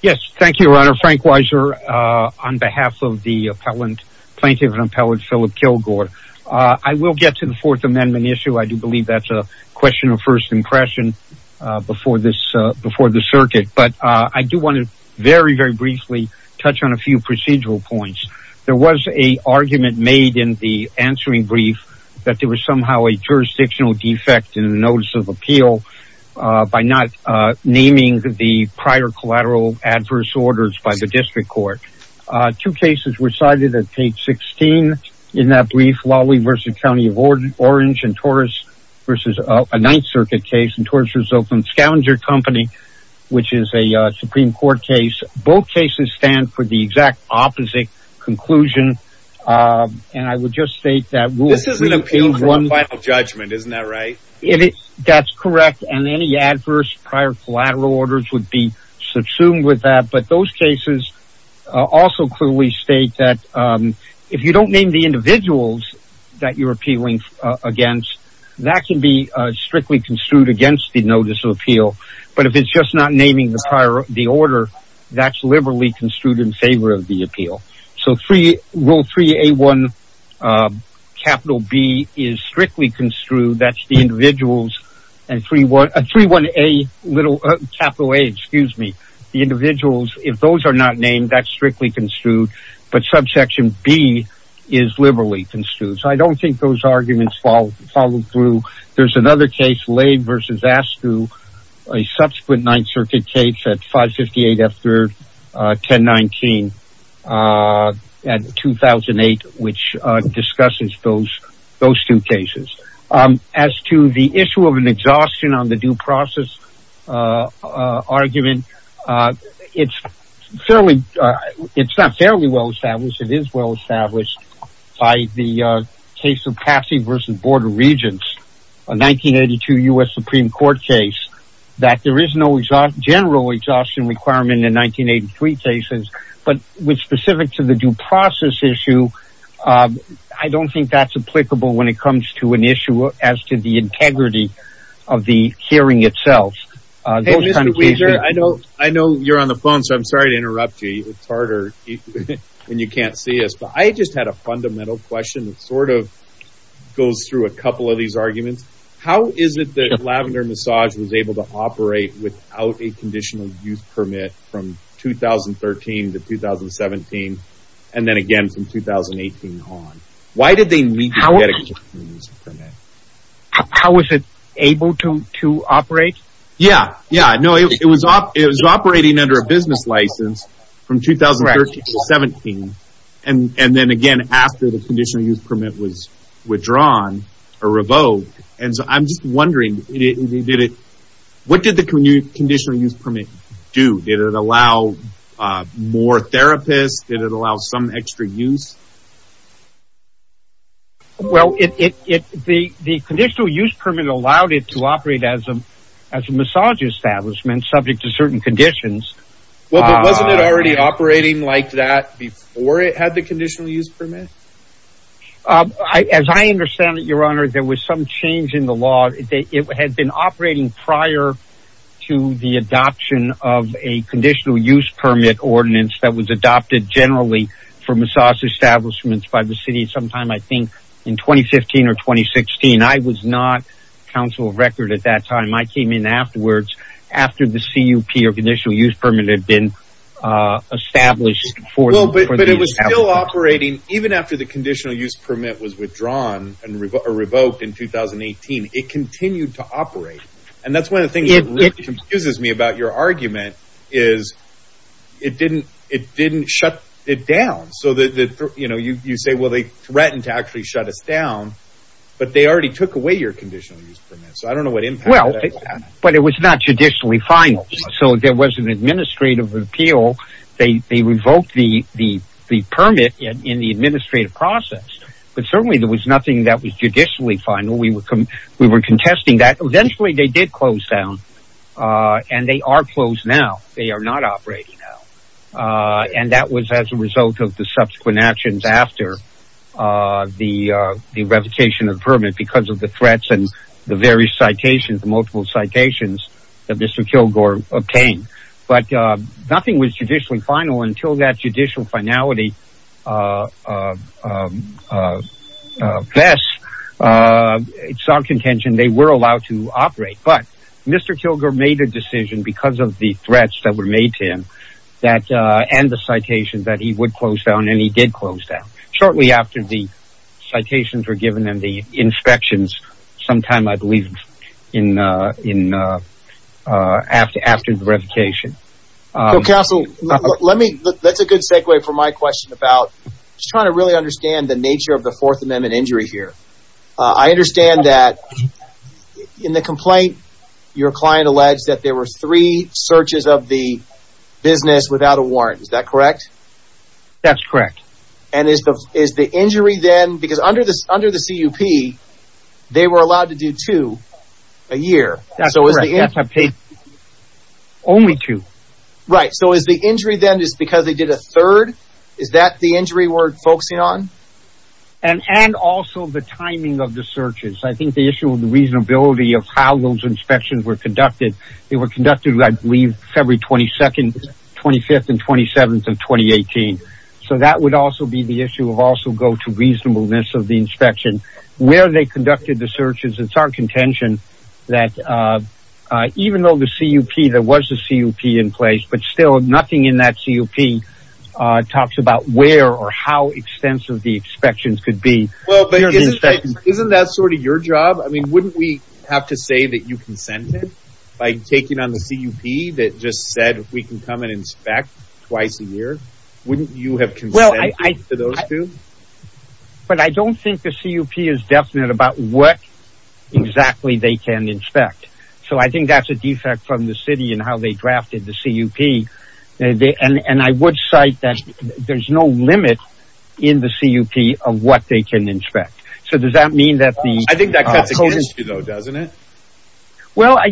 Yes, thank you, Your Honor. Frank Weiser on behalf of the plaintiff and appellate Philip Killgore. I will get to the Fourth Amendment issue. I do believe that's a question of first impression before the circuit. But I do want to very, very briefly touch on a few procedural points. There was an argument made in the answering brief that there was somehow a jurisdictional defect in the notice of appeal by not naming the prior collateral adverse orders by the district court. Two cases were cited at page 16 in that brief, Lawley v. County of Orange and Torres v. Ninth Circuit case and Torres v. Oakland Scavenger Company, which is a Supreme Court case. Both cases stand for the exact opposite conclusion. And I would just state that this is an appeal for the final judgment, isn't that right? That's correct. And any adverse prior collateral orders would be subsumed with that. But those cases also clearly state that if you don't name the individuals that you're appealing against, that can be strictly construed against the notice of appeal. But if it's just not naming the prior order, that's liberally construed in favor of the appeal. So rule 3A1 capital B is strictly construed. That's the individuals. And 3A1 capital A, excuse me, the individuals, if those are not named, that's strictly construed. But subsection B is liberally construed. So I don't think those arguments follow through. There's another case, Lade v. Askew, a subsequent Ninth Circuit case at 558 F3rd 1019 at 2008, which discusses those two cases. As to the issue of an exhaustion on the due process argument, it's not fairly well established. It is well established by the case v. Board of Regents, a 1982 U.S. Supreme Court case, that there is no general exhaustion requirement in 1983 cases. But with specific to the due process issue, I don't think that's applicable when it comes to an issue as to the integrity of the hearing itself. I know you're on the phone, so I'm sorry to interrupt you. It's harder when you can't see us. But I just had a fundamental question that sort of goes through a couple of these arguments. How is it that Lavender Massage was able to operate without a conditional use permit from 2013 to 2017, and then again from 2018 on? Why did they need to get a conditional use permit? How was it able to operate? Yeah, yeah. No, it was operating under a business license from 2013 to 2017, and then again after the conditional use permit was withdrawn or revoked. And so I'm just wondering, what did the conditional use permit do? Did it allow more therapists? Did it allow some extra use? Well, the conditional use permit allowed it to operate as a massage establishment, subject to certain conditions. Well, but wasn't it already operating like that before it had the conditional use permit? As I understand it, your honor, there was some change in the law. It had been operating prior to the adoption of a conditional use permit ordinance that was adopted generally for massage establishments by the city sometime, I think, in 2015 or 2016. I was not counsel of record at that time. I came in afterwards after the CUP or conditional use permit had been established. Well, but it was still operating even after the conditional use permit was withdrawn and revoked in 2018. It continued to operate. And that's one of the things that really confuses me about your argument is it didn't shut it down. So that, you know, you say, well, they threatened to actually shut us down, but they already took away your conditional use permit. So I don't know what impact that had. Well, but it was not judicially final. So there was an administrative appeal. They revoked the permit in the administrative process, but certainly there was nothing that was judicially final. We were contesting that. Eventually they did close down and they are closed now. They are not operating now. And that was as a result of the subsequent actions after the revocation of the permit because of the threats and the various citations, the multiple citations that Mr. Kilgore obtained. But nothing was judicially final until that judicial finality vests. It's our contention they were allowed to operate. But Mr. Kilgore made a decision because of the threats that were made to him and the citations that he would close down, and he did close down shortly after the citations were given and the inspections sometime, I believe, after the revocation. So, counsel, let me, that's a good segue for my question about just trying to really understand the nature of the Fourth Amendment injury here. I understand that in the complaint, your client alleged that there were three searches of the business without a warrant. Is that correct? That's correct. And is the injury then, because under the CUP, they were allowed to do two a year. That's correct. Only two. Right. So is the injury then just because they did a third? Is that the injury we're focusing on? And also the timing of the searches. I think the issue with the reasonability of how those inspections were conducted, they were conducted, I believe, February 22nd, 25th, and 27th of 2018. So that would also be the issue of also go to reasonableness of the inspection, where they conducted the searches. It's our contention that even though the CUP, there was a CUP in place, but still nothing in that CUP talks about where or how extensive the inspections could be. Isn't that sort of your job? I mean, wouldn't we have to say that you consented by taking on the CUP that just said we can come and inspect twice a year? Wouldn't you have consented to those two? But I don't think the CUP is definite about what exactly they can inspect. So I think that's a defect from the city and how they drafted the CUP. And I would cite that there's no limit in the CUP of what they can inspect. So does that mean that the... I think that cuts against you though, doesn't it? Well, I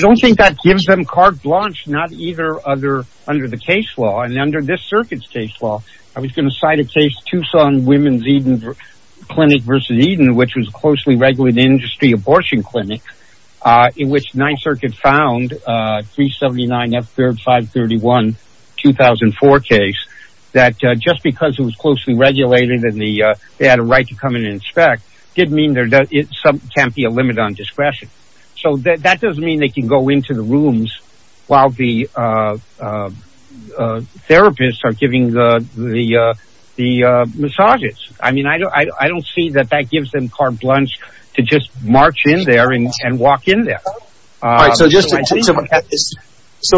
don't think that gives them carte blanche, not either other under the case law. And under this circuit's case law, I was going to cite a case, Tucson Women's Eden Clinic versus Eden, which was a closely regulated industry abortion clinic in which NYSERC had found a 379 F-3531 2004 case that just because it was closely regulated and they had a right to come in and inspect didn't mean there can't be a limit on discretion. So that doesn't mean they can go into the rooms while the therapists are giving the massages. I mean, I don't see that that gives them carte blanche to just march in there and walk in there. So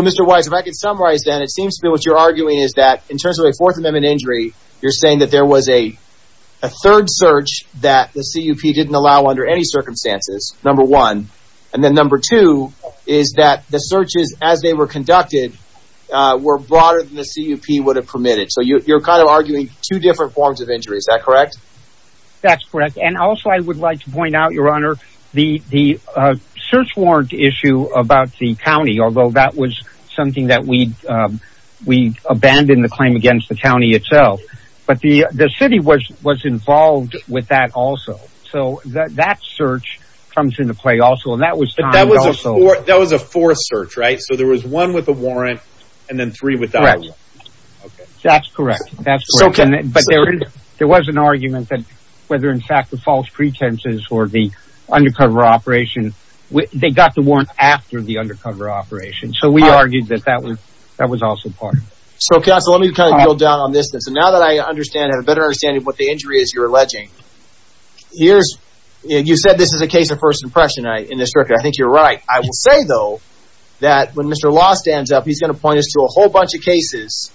Mr. Wise, if I could summarize that, it seems to be what you're arguing is that in terms of a Fourth Amendment injury, you're saying that there was a third search that the CUP didn't allow under any circumstances, number one. And then number two is that the searches as they were conducted were broader than the CUP would have permitted. So you're kind of arguing two different forms of injury. Is that correct? That's correct. Also, I would like to point out, Your Honor, the search warrant issue about the county, although that was something that we abandoned the claim against the county itself, but the city was involved with that also. So that search comes into play also. That was a fourth search, right? So there was one with a warrant and then three without a warrant. That's correct. But there was an argument that whether in fact the false pretenses or the undercover operation, they got the warrant after the undercover operation. So we argued that that was also part of it. So counsel, let me kind of go down on this then. So now that I have a better understanding of what the injury is you're alleging, you said this is a case of first impression. I think you're right. I will say, though, that when Mr. Lost stands up, he's going to point us to a whole bunch of cases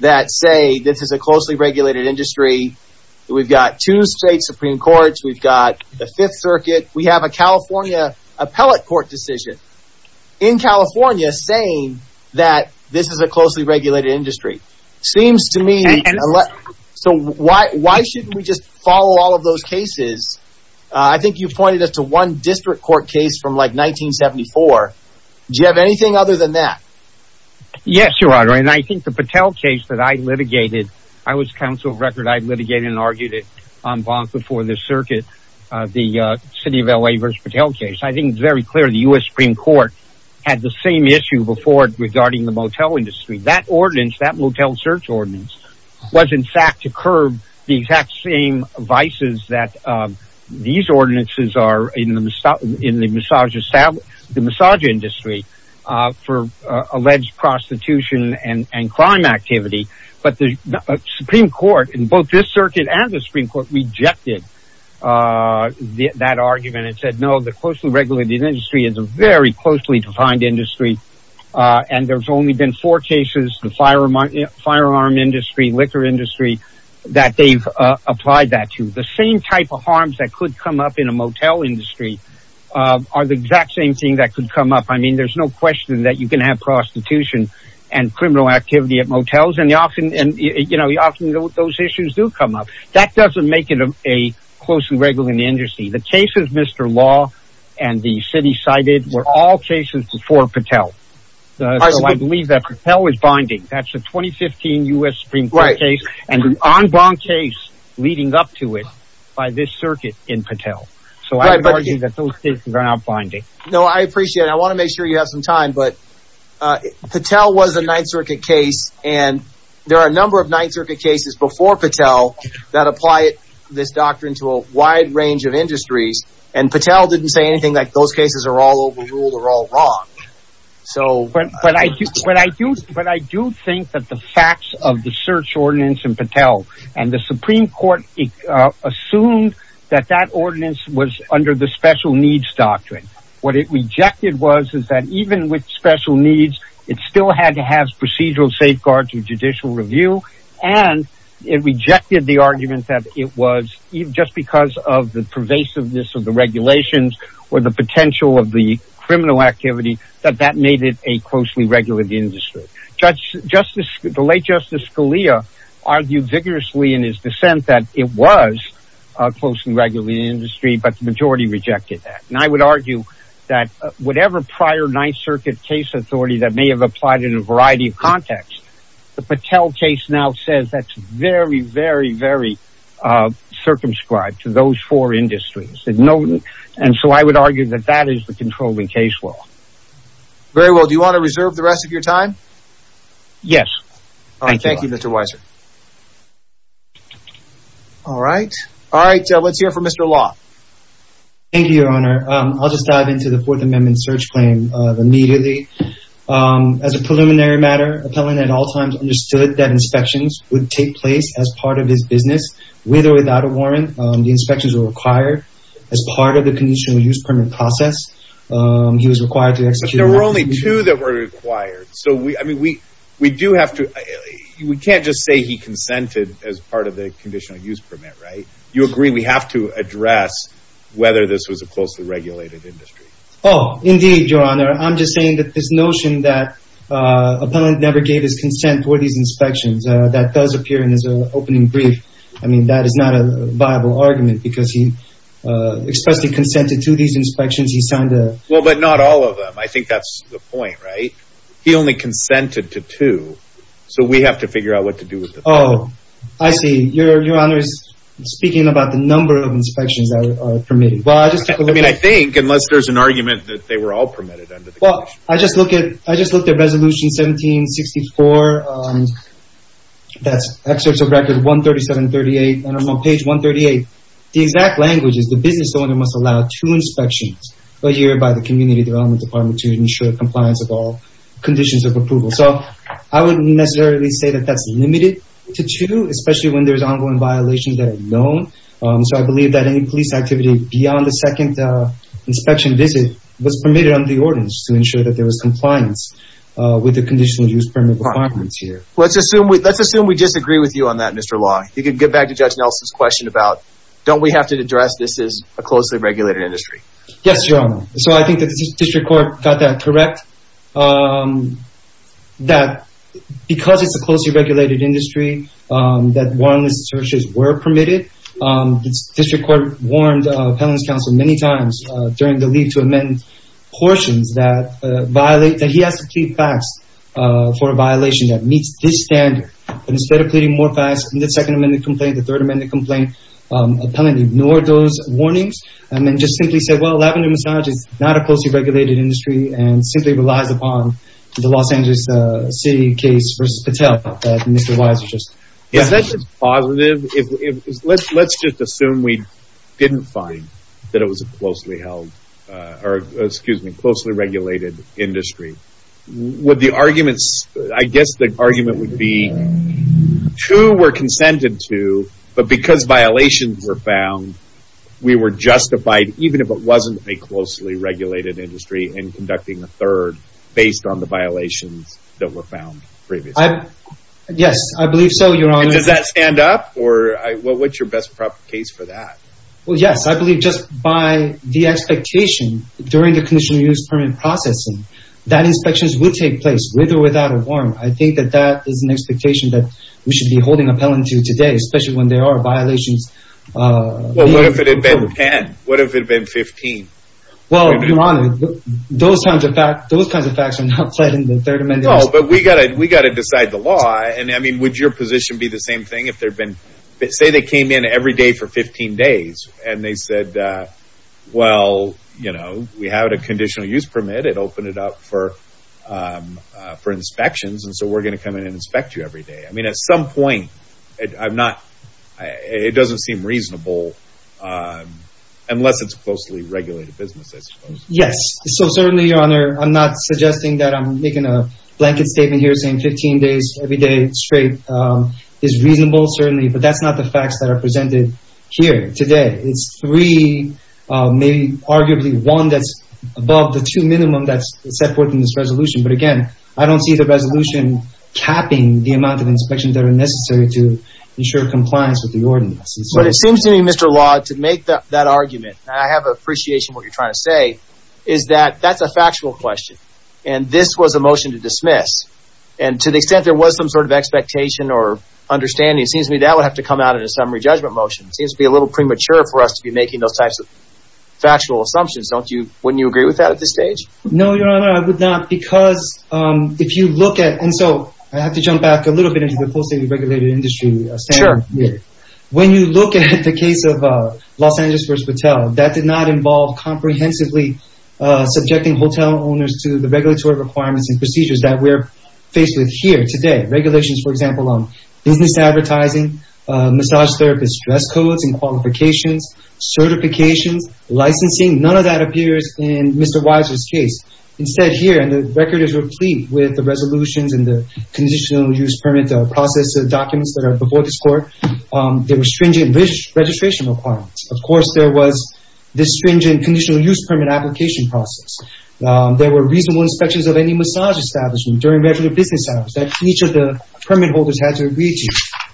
that say this is a closely regulated industry. We've got two state Supreme Courts. We've got the Fifth Circuit. We have a California appellate court decision in California saying that this is a closely regulated industry. Seems to me... So why shouldn't we just follow all of those cases? I think you pointed us to one district court case from like 1974. Do you have anything other than that? Yes, Your Honor. And I think the Patel case that I litigated, I was counsel of record. I litigated and argued it on bond before the circuit, the city of LA versus Patel case. I think it's very clear the U.S. Supreme Court had the same issue before regarding the motel industry. That ordinance, that motel search ordinance was in fact to curb the exact same vices that these ordinances are in the massage industry for alleged prostitution and crime activity. But the Supreme Court in both this circuit and the Supreme Court rejected that argument and said, no, the closely regulated industry is a very closely defined industry. And there's only been four cases, the firearm industry, liquor industry, that they've applied that to. The same type of harms that could come up in a motel industry are the exact same thing that could come up. I mean, there's no question that you can have prostitution and criminal activity at motels. And often those issues do come up. That doesn't make it a closely regulated industry. The cases Mr. Law and the city cited were all cases before Patel. I believe that Patel is binding. That's a 2015 U.S. Supreme Court case and an en banc case leading up to it by this circuit in Patel. So I believe that those cases are now binding. No, I appreciate it. I want to make sure you have some time. But Patel was a Ninth Circuit case. And there are a number of Ninth Circuit cases before Patel that apply this doctrine to a wide range of industries. And Patel didn't say anything like those cases are all overruled or all wrong. But I do think that the facts of the search ordinance in Patel and the Supreme Court assumed that that ordinance was under the special needs doctrine. What it rejected was is that even with special needs, it still had to have procedural safeguards and judicial review. And it rejected the argument that it was just because of the pervasiveness of the regulations or the potential of the criminal activity that that made it a justice. Scalia argued vigorously in his dissent that it was close and regularly in the industry. But the majority rejected that. And I would argue that whatever prior Ninth Circuit case authority that may have applied in a variety of contexts, the Patel case now says that's very, very, very circumscribed to those four industries. And so I would argue that that is the controlling case law. Very well. Do you want to reserve the rest of your time? Yes. Thank you, Mr. Weiser. All right. All right. Let's hear from Mr. Law. Thank you, Your Honor. I'll just dive into the Fourth Amendment search claim immediately. As a preliminary matter, Appellant at all times understood that inspections would take place as part of his business with or without a warrant. The inspections were required as part of the conditional use permit process. He was required to execute. There were only two that were required. So we I mean, we we do have to we can't just say he consented as part of the conditional use permit. Right. You agree we have to address whether this was a closely regulated industry. Oh, indeed, Your Honor. I'm just saying that this notion that Appellant never gave his consent for these inspections that does appear in his opening brief. I mean, that is not a viable argument because he expressly consented to these inspections. He signed a. Well, but not all of them. I think that's the point, right? He only consented to two. So we have to figure out what to do with the. Oh, I see. Your Honor is speaking about the number of inspections that are permitted. Well, I just. I mean, I think unless there's an argument that they were all permitted under the. Well, I just look at I just looked at Resolution 1764. That's Excerpt of Record 13738. And I'm on page 138. The exact language is the owner must allow two inspections a year by the Community Development Department to ensure compliance of all conditions of approval. So I wouldn't necessarily say that that's limited to two, especially when there's ongoing violations that are known. So I believe that any police activity beyond the second inspection visit was permitted under the ordinance to ensure that there was compliance with the conditional use permit requirements here. Let's assume we let's assume we disagree with you on that, Mr. Long. You could get back to Judge Nelson's question about don't we have to address this as a closely regulated industry? Yes, Your Honor. So I think the District Court got that correct. That because it's a closely regulated industry, that warrantless searches were permitted. The District Court warned Appellant's Counsel many times during the leave to amend portions that violate that he has to plead fax for a violation that meets this standard. Instead of pleading more fax in the Second Amendment complaint, the Third Amendment complaint, Appellant ignored those warnings and then just simply said, well, lavender massage is not a closely regulated industry and simply relies upon the Los Angeles City case versus Patel. Is that just positive? Let's just assume we didn't find that it was a closely held, or excuse me, closely regulated industry. Would the arguments, I guess the argument would be two were consented to, but because violations were found, we were justified even if it wasn't a closely regulated industry and conducting a third based on the violations that were found previously. Yes, I believe so, Your Honor. Does that stand up or what's your best prop case for that? Well, yes, I believe just by the expectation during the conditional use permit processing that inspections would take place with or without a warrant. I think that that is an expectation that we should be holding Appellant to today, especially when there are violations. Well, what if it had been 10? What if it had been 15? Well, Your Honor, those kinds of facts are not pledged in the Third Amendment. No, but we got to decide the law. And I mean, would your position be the same thing if there'd been, say they came in every day for for inspections and so we're going to come in and inspect you every day? I mean, at some point, I'm not, it doesn't seem reasonable unless it's a closely regulated business, I suppose. Yes, so certainly, Your Honor, I'm not suggesting that I'm making a blanket statement here saying 15 days every day straight is reasonable, certainly, but that's not the facts that are presented here today. It's three, maybe arguably one that's above the two minimum that's set forth in this resolution. But again, I don't see the resolution capping the amount of inspections that are necessary to ensure compliance with the ordinance. But it seems to me, Mr. Law, to make that argument, I have appreciation what you're trying to say, is that that's a factual question. And this was a motion to dismiss. And to the extent there was some sort of expectation or understanding, it seems to me that would have to come out in a summary judgment motion. It seems to be a little premature for us to be making those types of factual assumptions, don't you? Wouldn't you agree with that at this stage? No, Your Honor, I would not because if you look at, and so I have to jump back a little bit into the closely regulated industry. When you look at the case of Los Angeles vs. Patel, that did not involve comprehensively subjecting hotel owners to the regulatory requirements and procedures that we're faced with here today. Regulations, for example, on business advertising, massage therapist, dress codes and qualifications, certifications, licensing, none of that appears in Mr. Weiser's case. Instead here, and the record is replete with the resolutions and the conditional use permit process documents that are before this Court, there were stringent registration requirements. Of course, there was this stringent conditional use permit application process. There were reasonable inspections of any massage establishment during regular business hours that each of the permit holders had to agree to.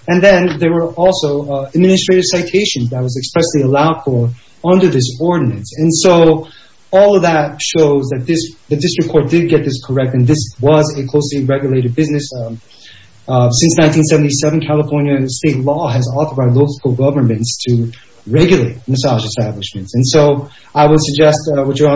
And then there were also administrative citations that was expressly allowed for under this ordinance. And so all of that shows that this, the District Court did get this correct, and this was a closely regulated business. Since 1977, California state law has authorized local governments to regulate massage establishments. And so I would suggest what you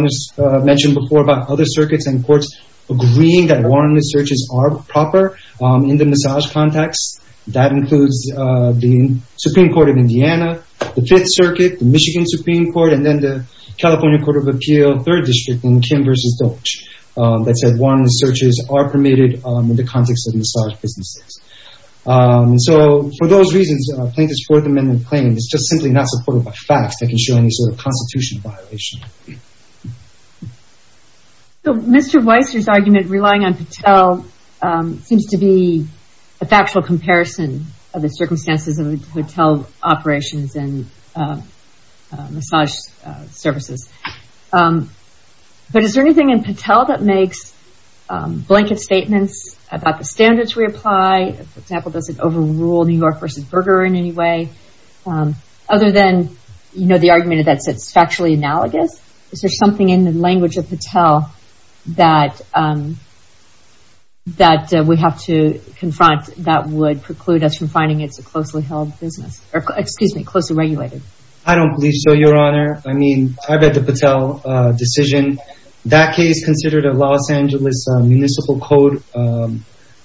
mentioned before about other circuits and courts agreeing that warrantless searches are proper in the massage context. That includes the Supreme Court of Indiana, the Fifth Circuit, the Michigan Supreme Court, and then the California Court of Appeal, Third District in Kim vs. Dolch that said warrantless searches are permitted in the context of massage businesses. So for those reasons, plaintiff's Fourth Amendment claim is just simply not supported by facts that can show any sort of constitutional violation. So Mr. Weiser's argument relying on Patel seems to be a factual comparison of the circumstances of hotel operations and massage services. But is there anything in Patel that makes blanket statements about the standards we apply? For example, does it overrule New York vs. Berger in any way? Other than, you know, the argument that it's factually analogous, is there something in the language of Patel that we have to confront that would preclude us from finding it's a closely held business? Or excuse me, closely regulated? I don't believe so, Your Honor. I mean, I bet the Patel decision, that case considered a Los Angeles municipal code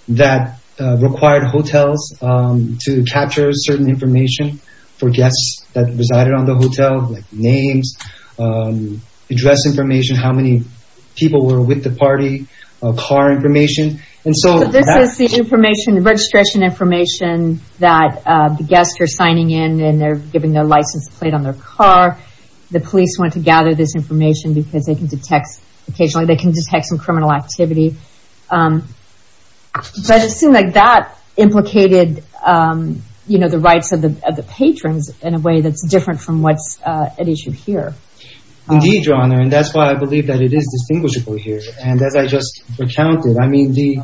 that required hotels to capture certain information for guests that resided on the hotel, like names, address information, how many people were with the party, car information. And so this is the information, the registration information that the guests are signing in, and they're giving their license plate on their car. The police want to gather this information because they can detect, occasionally they can detect some criminal activity. But it seemed like that implicated, you know, the rights of the patrons in a way that's different from what's at issue here. Indeed, Your Honor, and that's why I believe that it is distinguishable here. And as I just recounted, I mean, the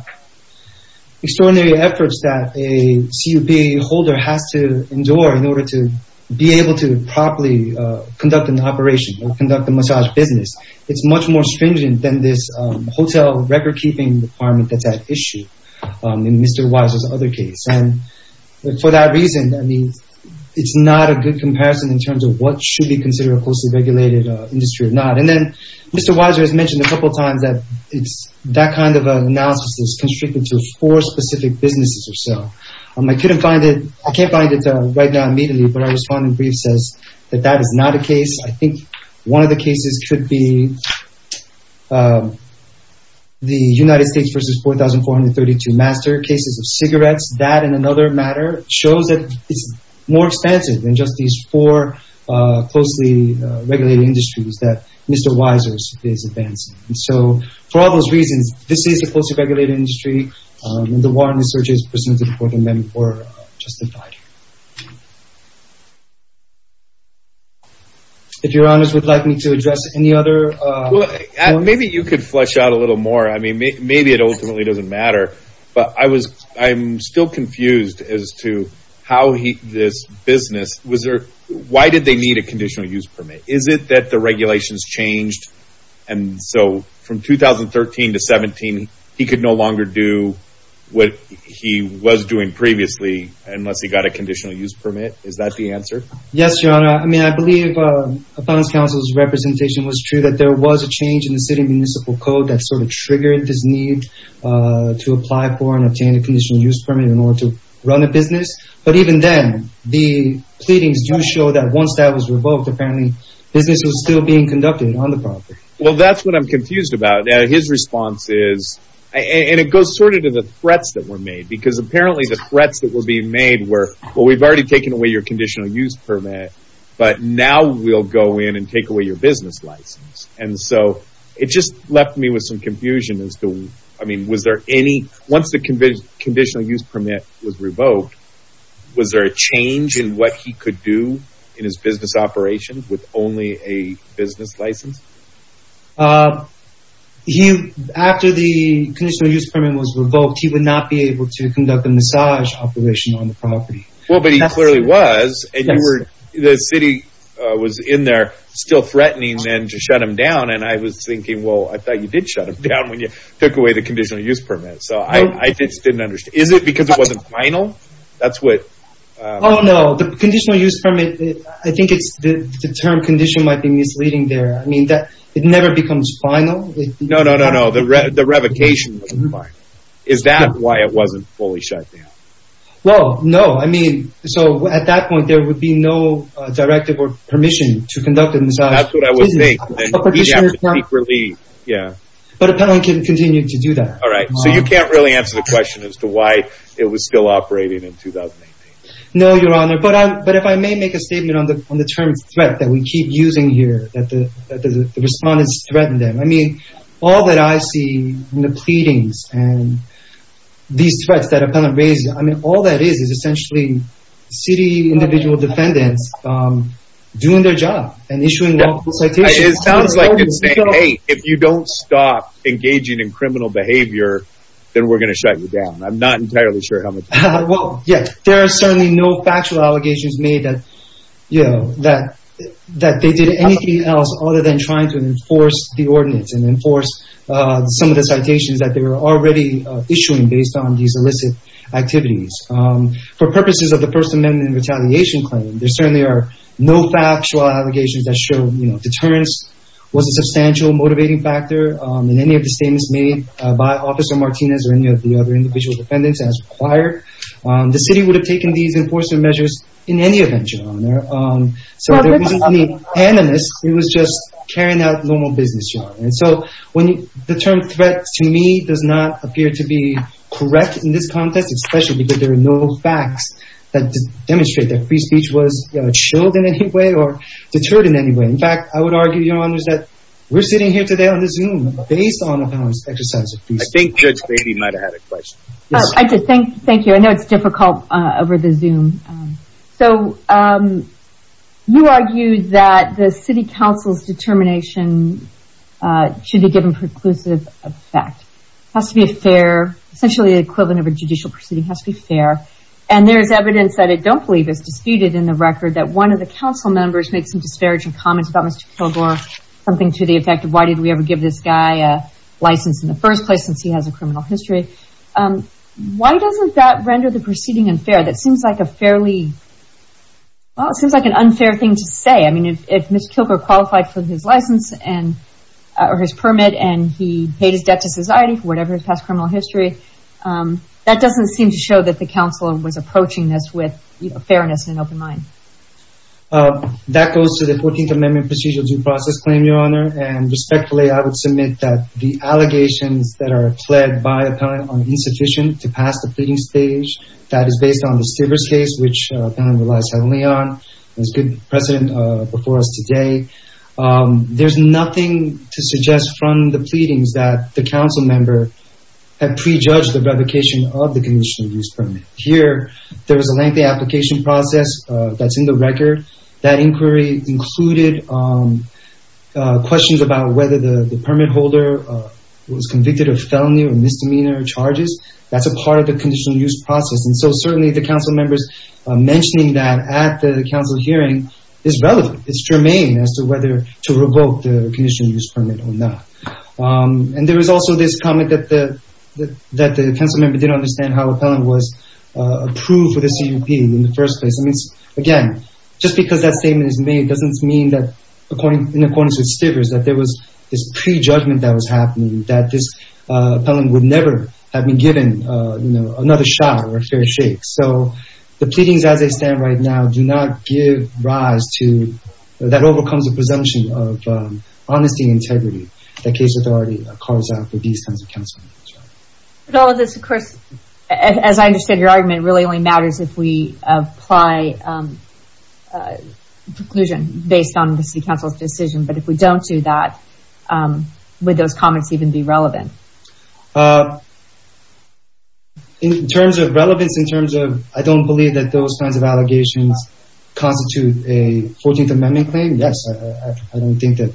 extraordinary efforts that a CUPA holder has to endure in order to be able to properly conduct an operation or conduct a massage business, it's much more stringent than this hotel record keeping department that's at issue in Mr. Weiser's other case. And for that reason, I mean, it's not a good comparison in terms of what should be considered a closely regulated industry or not. And then Mr. Weiser has mentioned a couple of times that it's that kind of analysis is constricted to four specific businesses or so. I couldn't find it. I can't find it right now immediately, but our responding brief says that that is not a case. I think one of the cases could be the United States versus 4,432 master cases of cigarettes. That and another matter shows that it's more expensive than just these four closely regulated industries that Mr. Weiser is advancing. And so for all those reasons, this is a closely regulated industry. And the warrant research is presented before the amendment were justified. If your honors would like me to address any other... Maybe you could flesh out a little more. I mean, maybe it ultimately doesn't matter, but I was, I'm still confused as to how this business was there. Why did they need a conditional use permit? Is it that the regulations changed? And so from 2013 to 17, he could no longer do what he was doing previously, unless he got a conditional use permit. Is that the answer? Yes, your honor. I mean, I believe a finance council's representation was true that there was a change in the city municipal code that sort of triggered this need to apply for and obtain a conditional use permit in order to run a business. But even then the pleadings do show that once that was revoked, apparently business was still being conducted on the property. Well, that's what I'm confused about. His response is, and it goes sort of to the threats that were made because apparently the threats that were being made were, well, we've already taken away your conditional use permit, but now we'll go in and take away your business license. And so it just left me with some confusion as to, I mean, was there any, once the conditional use permit was revoked, was there a change in what he could do in his business operations with only a business license? After the conditional use permit was revoked, he would not be able to conduct a massage operation on the property. Well, but he clearly was, and the city was in there still threatening then to shut him down. And I was thinking, well, I thought you did shut him down when you took away the conditional use permit. So I just didn't understand. Is it because it wasn't final? Oh no, the conditional use permit, I think it's the term condition might be misleading there. I mean, it never becomes final. No, no, no, no. The revocation. Is that why it wasn't fully shut down? Well, no. I mean, so at that point there would be no directive or permission to conduct a massage. That's what I would think. But Appellant can continue to do that. All right. So you can't really answer the question as to why it was still operating in 2018. No, Your Honor. But if I may make a statement on the term threat that we keep using here, that the respondents threaten them. I see the pleadings and these threats that Appellant raises. I mean, all that is, is essentially city individual defendants doing their job and issuing lawful citations. It sounds like you're saying, hey, if you don't stop engaging in criminal behavior, then we're going to shut you down. I'm not entirely sure how much. Well, yeah, there are certainly no factual allegations made that, you know, that, that they did anything else other than trying to enforce the ordinance and enforce some of the citations that they were already issuing based on these illicit activities. For purposes of the First Amendment and retaliation claim, there certainly are no factual allegations that show, you know, deterrence was a substantial motivating factor in any of the statements made by Officer Martinez or any of the other individual defendants as required. The city would have taken these enforcement measures in any event, Your Honor. So there wasn't any animus. It was just carrying out normal business, Your Honor. And so when you, the term threat to me does not appear to be correct in this context, especially because there are no facts that demonstrate that free speech was chilled in any way or deterred in any way. In fact, I would argue, Your Honor, that we're sitting here today on the Zoom based on Appellant's exercise of free speech. I think Judge Beatty might have had a question. I just think, thank you. I know it's difficult over the record that one of the council members made some disparaging comments about Mr. Kilgore, something to the effect of, why did we ever give this guy a license in the first place since he has a criminal history? Why doesn't that render the proceeding unfair? That seems like a fairly, well, it seems like an unfair thing to say. I mean, if Mr. Kilgore qualified for his license and, or his permit, and he paid his debt to society for whatever his past criminal history, that doesn't seem to show that the council was approaching this with fairness and an open mind. That goes to the 14th Amendment procedural due process claim, Your Honor. And respectfully, I would submit that the allegations that are pled by Appellant are insufficient to pass the Appellant relies heavily on. There's good precedent before us today. There's nothing to suggest from the pleadings that the council member had prejudged the revocation of the conditional use permit. Here, there was a lengthy application process that's in the record. That inquiry included questions about whether the permit holder was convicted of felony or misdemeanor charges. That's a part of the conditional use process. And so certainly the council members mentioning that at the council hearing is relevant. It's germane as to whether to revoke the conditional use permit or not. And there was also this comment that the council member didn't understand how Appellant was approved for the CUP in the first place. I mean, again, just because that statement is made doesn't mean that, in accordance with Stivers, that there was this prejudgment that was happening, that this Appellant would never have been given another shot or a fair shake. So the pleadings, as they stand right now, do not give rise to, that overcomes the presumption of honesty and integrity that case authority calls out for these kinds of council members. But all of this, of course, as I understand your argument, really only matters if we apply preclusion based on the city council's decision. But if we don't do that, would those comments even be relevant? In terms of relevance, in terms of, I don't believe that those kinds of allegations constitute a 14th Amendment claim. Yes, I don't think that,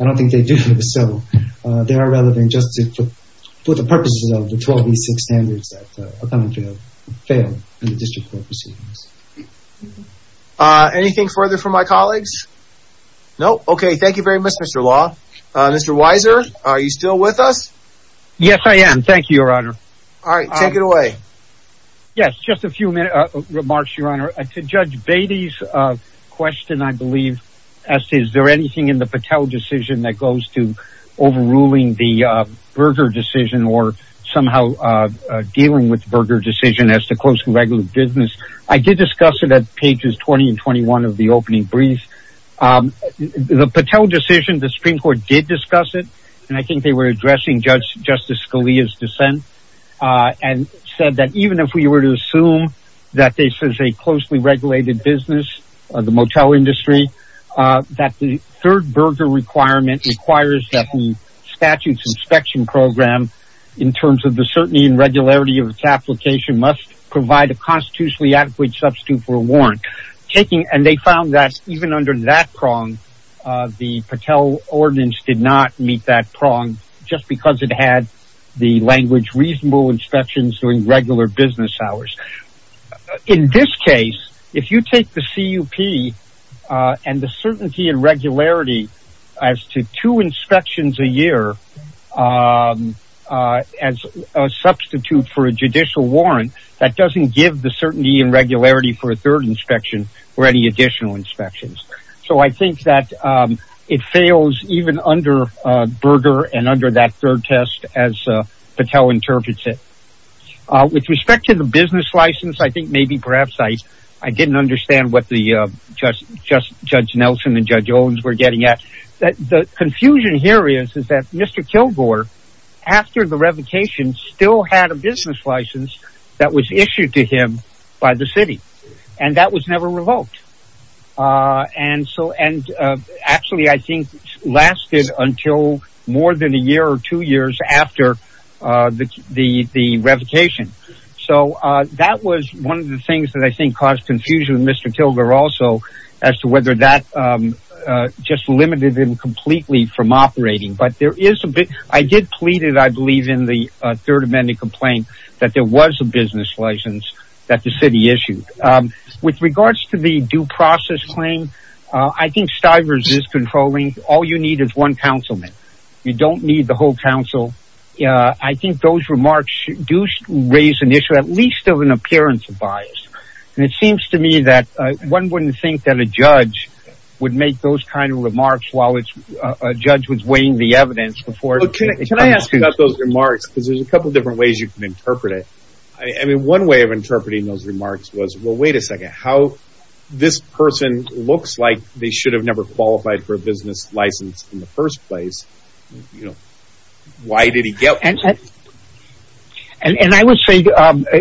I don't think they do. So they are relevant just to put the purposes of the 12B6 standards that Appellant failed in the district court proceedings. Anything further from my colleagues? Nope. Okay. Thank you very much, Mr. Law. Mr. Weiser, are you still with us? Yes, I am. Thank you, Your Honor. All right, take it away. Yes, just a few minutes, remarks, Your Honor. To Judge Beatty's question, I believe, as to is there anything in the Patel decision that goes to overruling the Berger decision or somehow dealing with Berger decision as to close to regular business? I did discuss it at pages 20 and 21 of the opening brief. The Patel decision, the Supreme Court did discuss it. And I think they were addressing Justice Scalia's dissent and said that even if we were to assume that this is a closely regulated business, the motel industry, that the third Berger requirement requires that the statute's inspection program, in terms of the certainty and regularity of its application, must provide a constitutionally adequate substitute for a warrant. And they found that even under that prong, the Patel ordinance did not meet that prong just because it had the language reasonable inspections during regular business hours. In this case, if you take the CUP and the certainty and regularity as to two inspections a year as a substitute for a judicial warrant, that doesn't give the certainty and regularity for third inspection or any additional inspections. So I think that it fails even under Berger and under that third test as Patel interprets it. With respect to the business license, I think maybe perhaps I didn't understand what the Judge Nelson and Judge Owens were getting at. The confusion here is that Mr. Kilgore, after the revocation, still had a business license that was issued to the city. And that was never revoked. And actually I think lasted until more than a year or two years after the revocation. So that was one of the things that I think caused confusion with Mr. Kilgore also as to whether that just limited him completely from operating. But there is a bit, I did plead it I believe in the third amendment complaint, that there was a business license that the city issued. With regards to the due process claim, I think Stivers is controlling. All you need is one councilman. You don't need the whole council. I think those remarks do raise an issue, at least of an appearance of bias. And it seems to me that one wouldn't think that a judge would make those kind of remarks while a judge was weighing the evidence. Can I ask you about those remarks? Because there's a couple different ways you can interpret it. I mean, one way of interpreting those remarks was, well, wait a second, how this person looks like they should have never qualified for a business license in the first place. You know, why did he get one? And I would say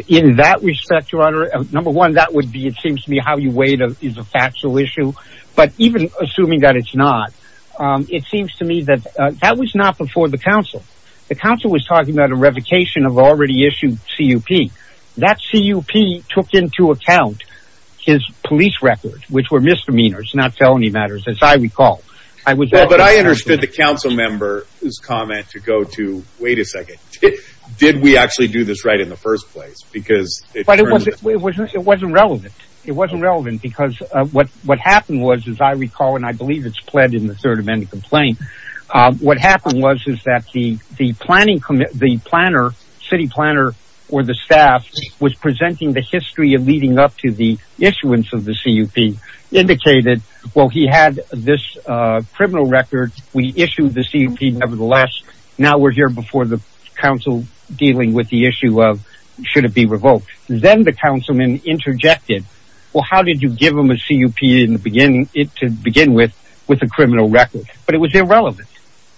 in that respect, your honor, number one, that would be, it seems to me, how you weighed is a factual issue. But even assuming that it's not, it seems to me that that was not before the council. The council was talking about a revocation of already issued CUP. That CUP took into account his police records, which were misdemeanors, not felony matters, as I recall. But I understood the council member's comment to go to, wait a second, did we actually do this right in the first place? Because it wasn't relevant. It wasn't relevant because what happened was, as I recall, and I believe it's pled in the third amendment complaint, what happened was is that the planning, the planner, city planner, or the staff was presenting the history of leading up to the issuance of the CUP indicated, well, he had this criminal record. We issued the CUP nevertheless. Now we're here before the council dealing with the issue of should it be revoked? Then the councilman interjected, well, how did you give him a CUP to begin with, with a criminal record? But it was irrelevant.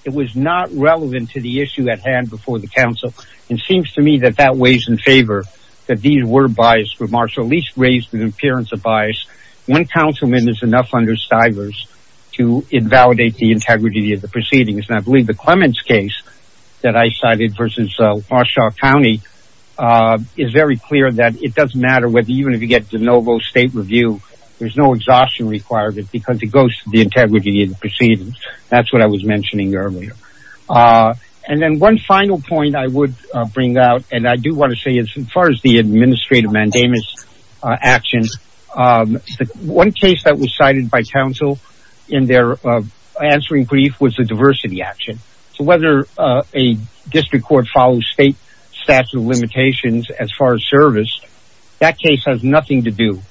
It was not relevant to the issue at hand before the council. It seems to me that that weighs in favor, that these were biased remarks, or at least raised an appearance of bias. One councilman is enough under Stivers to invalidate the integrity of the proceedings. And I believe the Clements case that I cited versus Marshall County is very clear that it doesn't matter whether, even if you get the state review, there's no exhaustion requirement because it goes to the integrity of the proceedings. That's what I was mentioning earlier. And then one final point I would bring out, and I do want to say as far as the administrative mandamus action, one case that was cited by council in their answering brief was a diversity action. So whether a district court follows state limitations as far as service, that case has nothing to do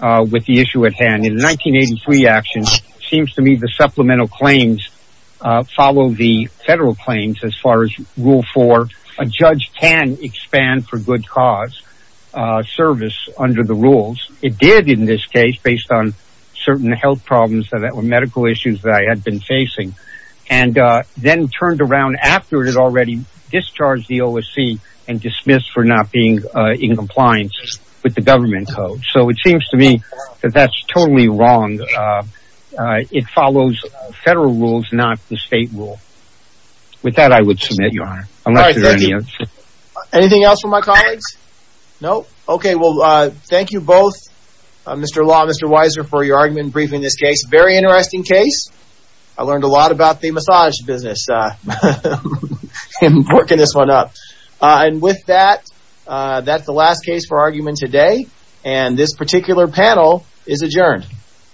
with the issue at hand. In 1983 action, it seems to me the supplemental claims follow the federal claims as far as rule four, a judge can expand for good cause service under the rules. It did in this case, based on certain health problems that were medical issues that I had been facing, and then turned around after it had already discharged the OSC and dismissed for not being in compliance with the government code. So it seems to me that that's totally wrong. It follows federal rules, not the state rule. With that, I would submit your honor. Anything else for my colleagues? No? Okay. Well, thank you both, Mr. Law, Mr. Weiser for your argument briefing this case. Very interesting case. I learned a lot about the massage business in working this one up. And with that, that's the last case for argument today. And this particular panel is adjourned.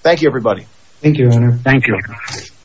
Thank you, everybody. Thank you, your honor. Thank you.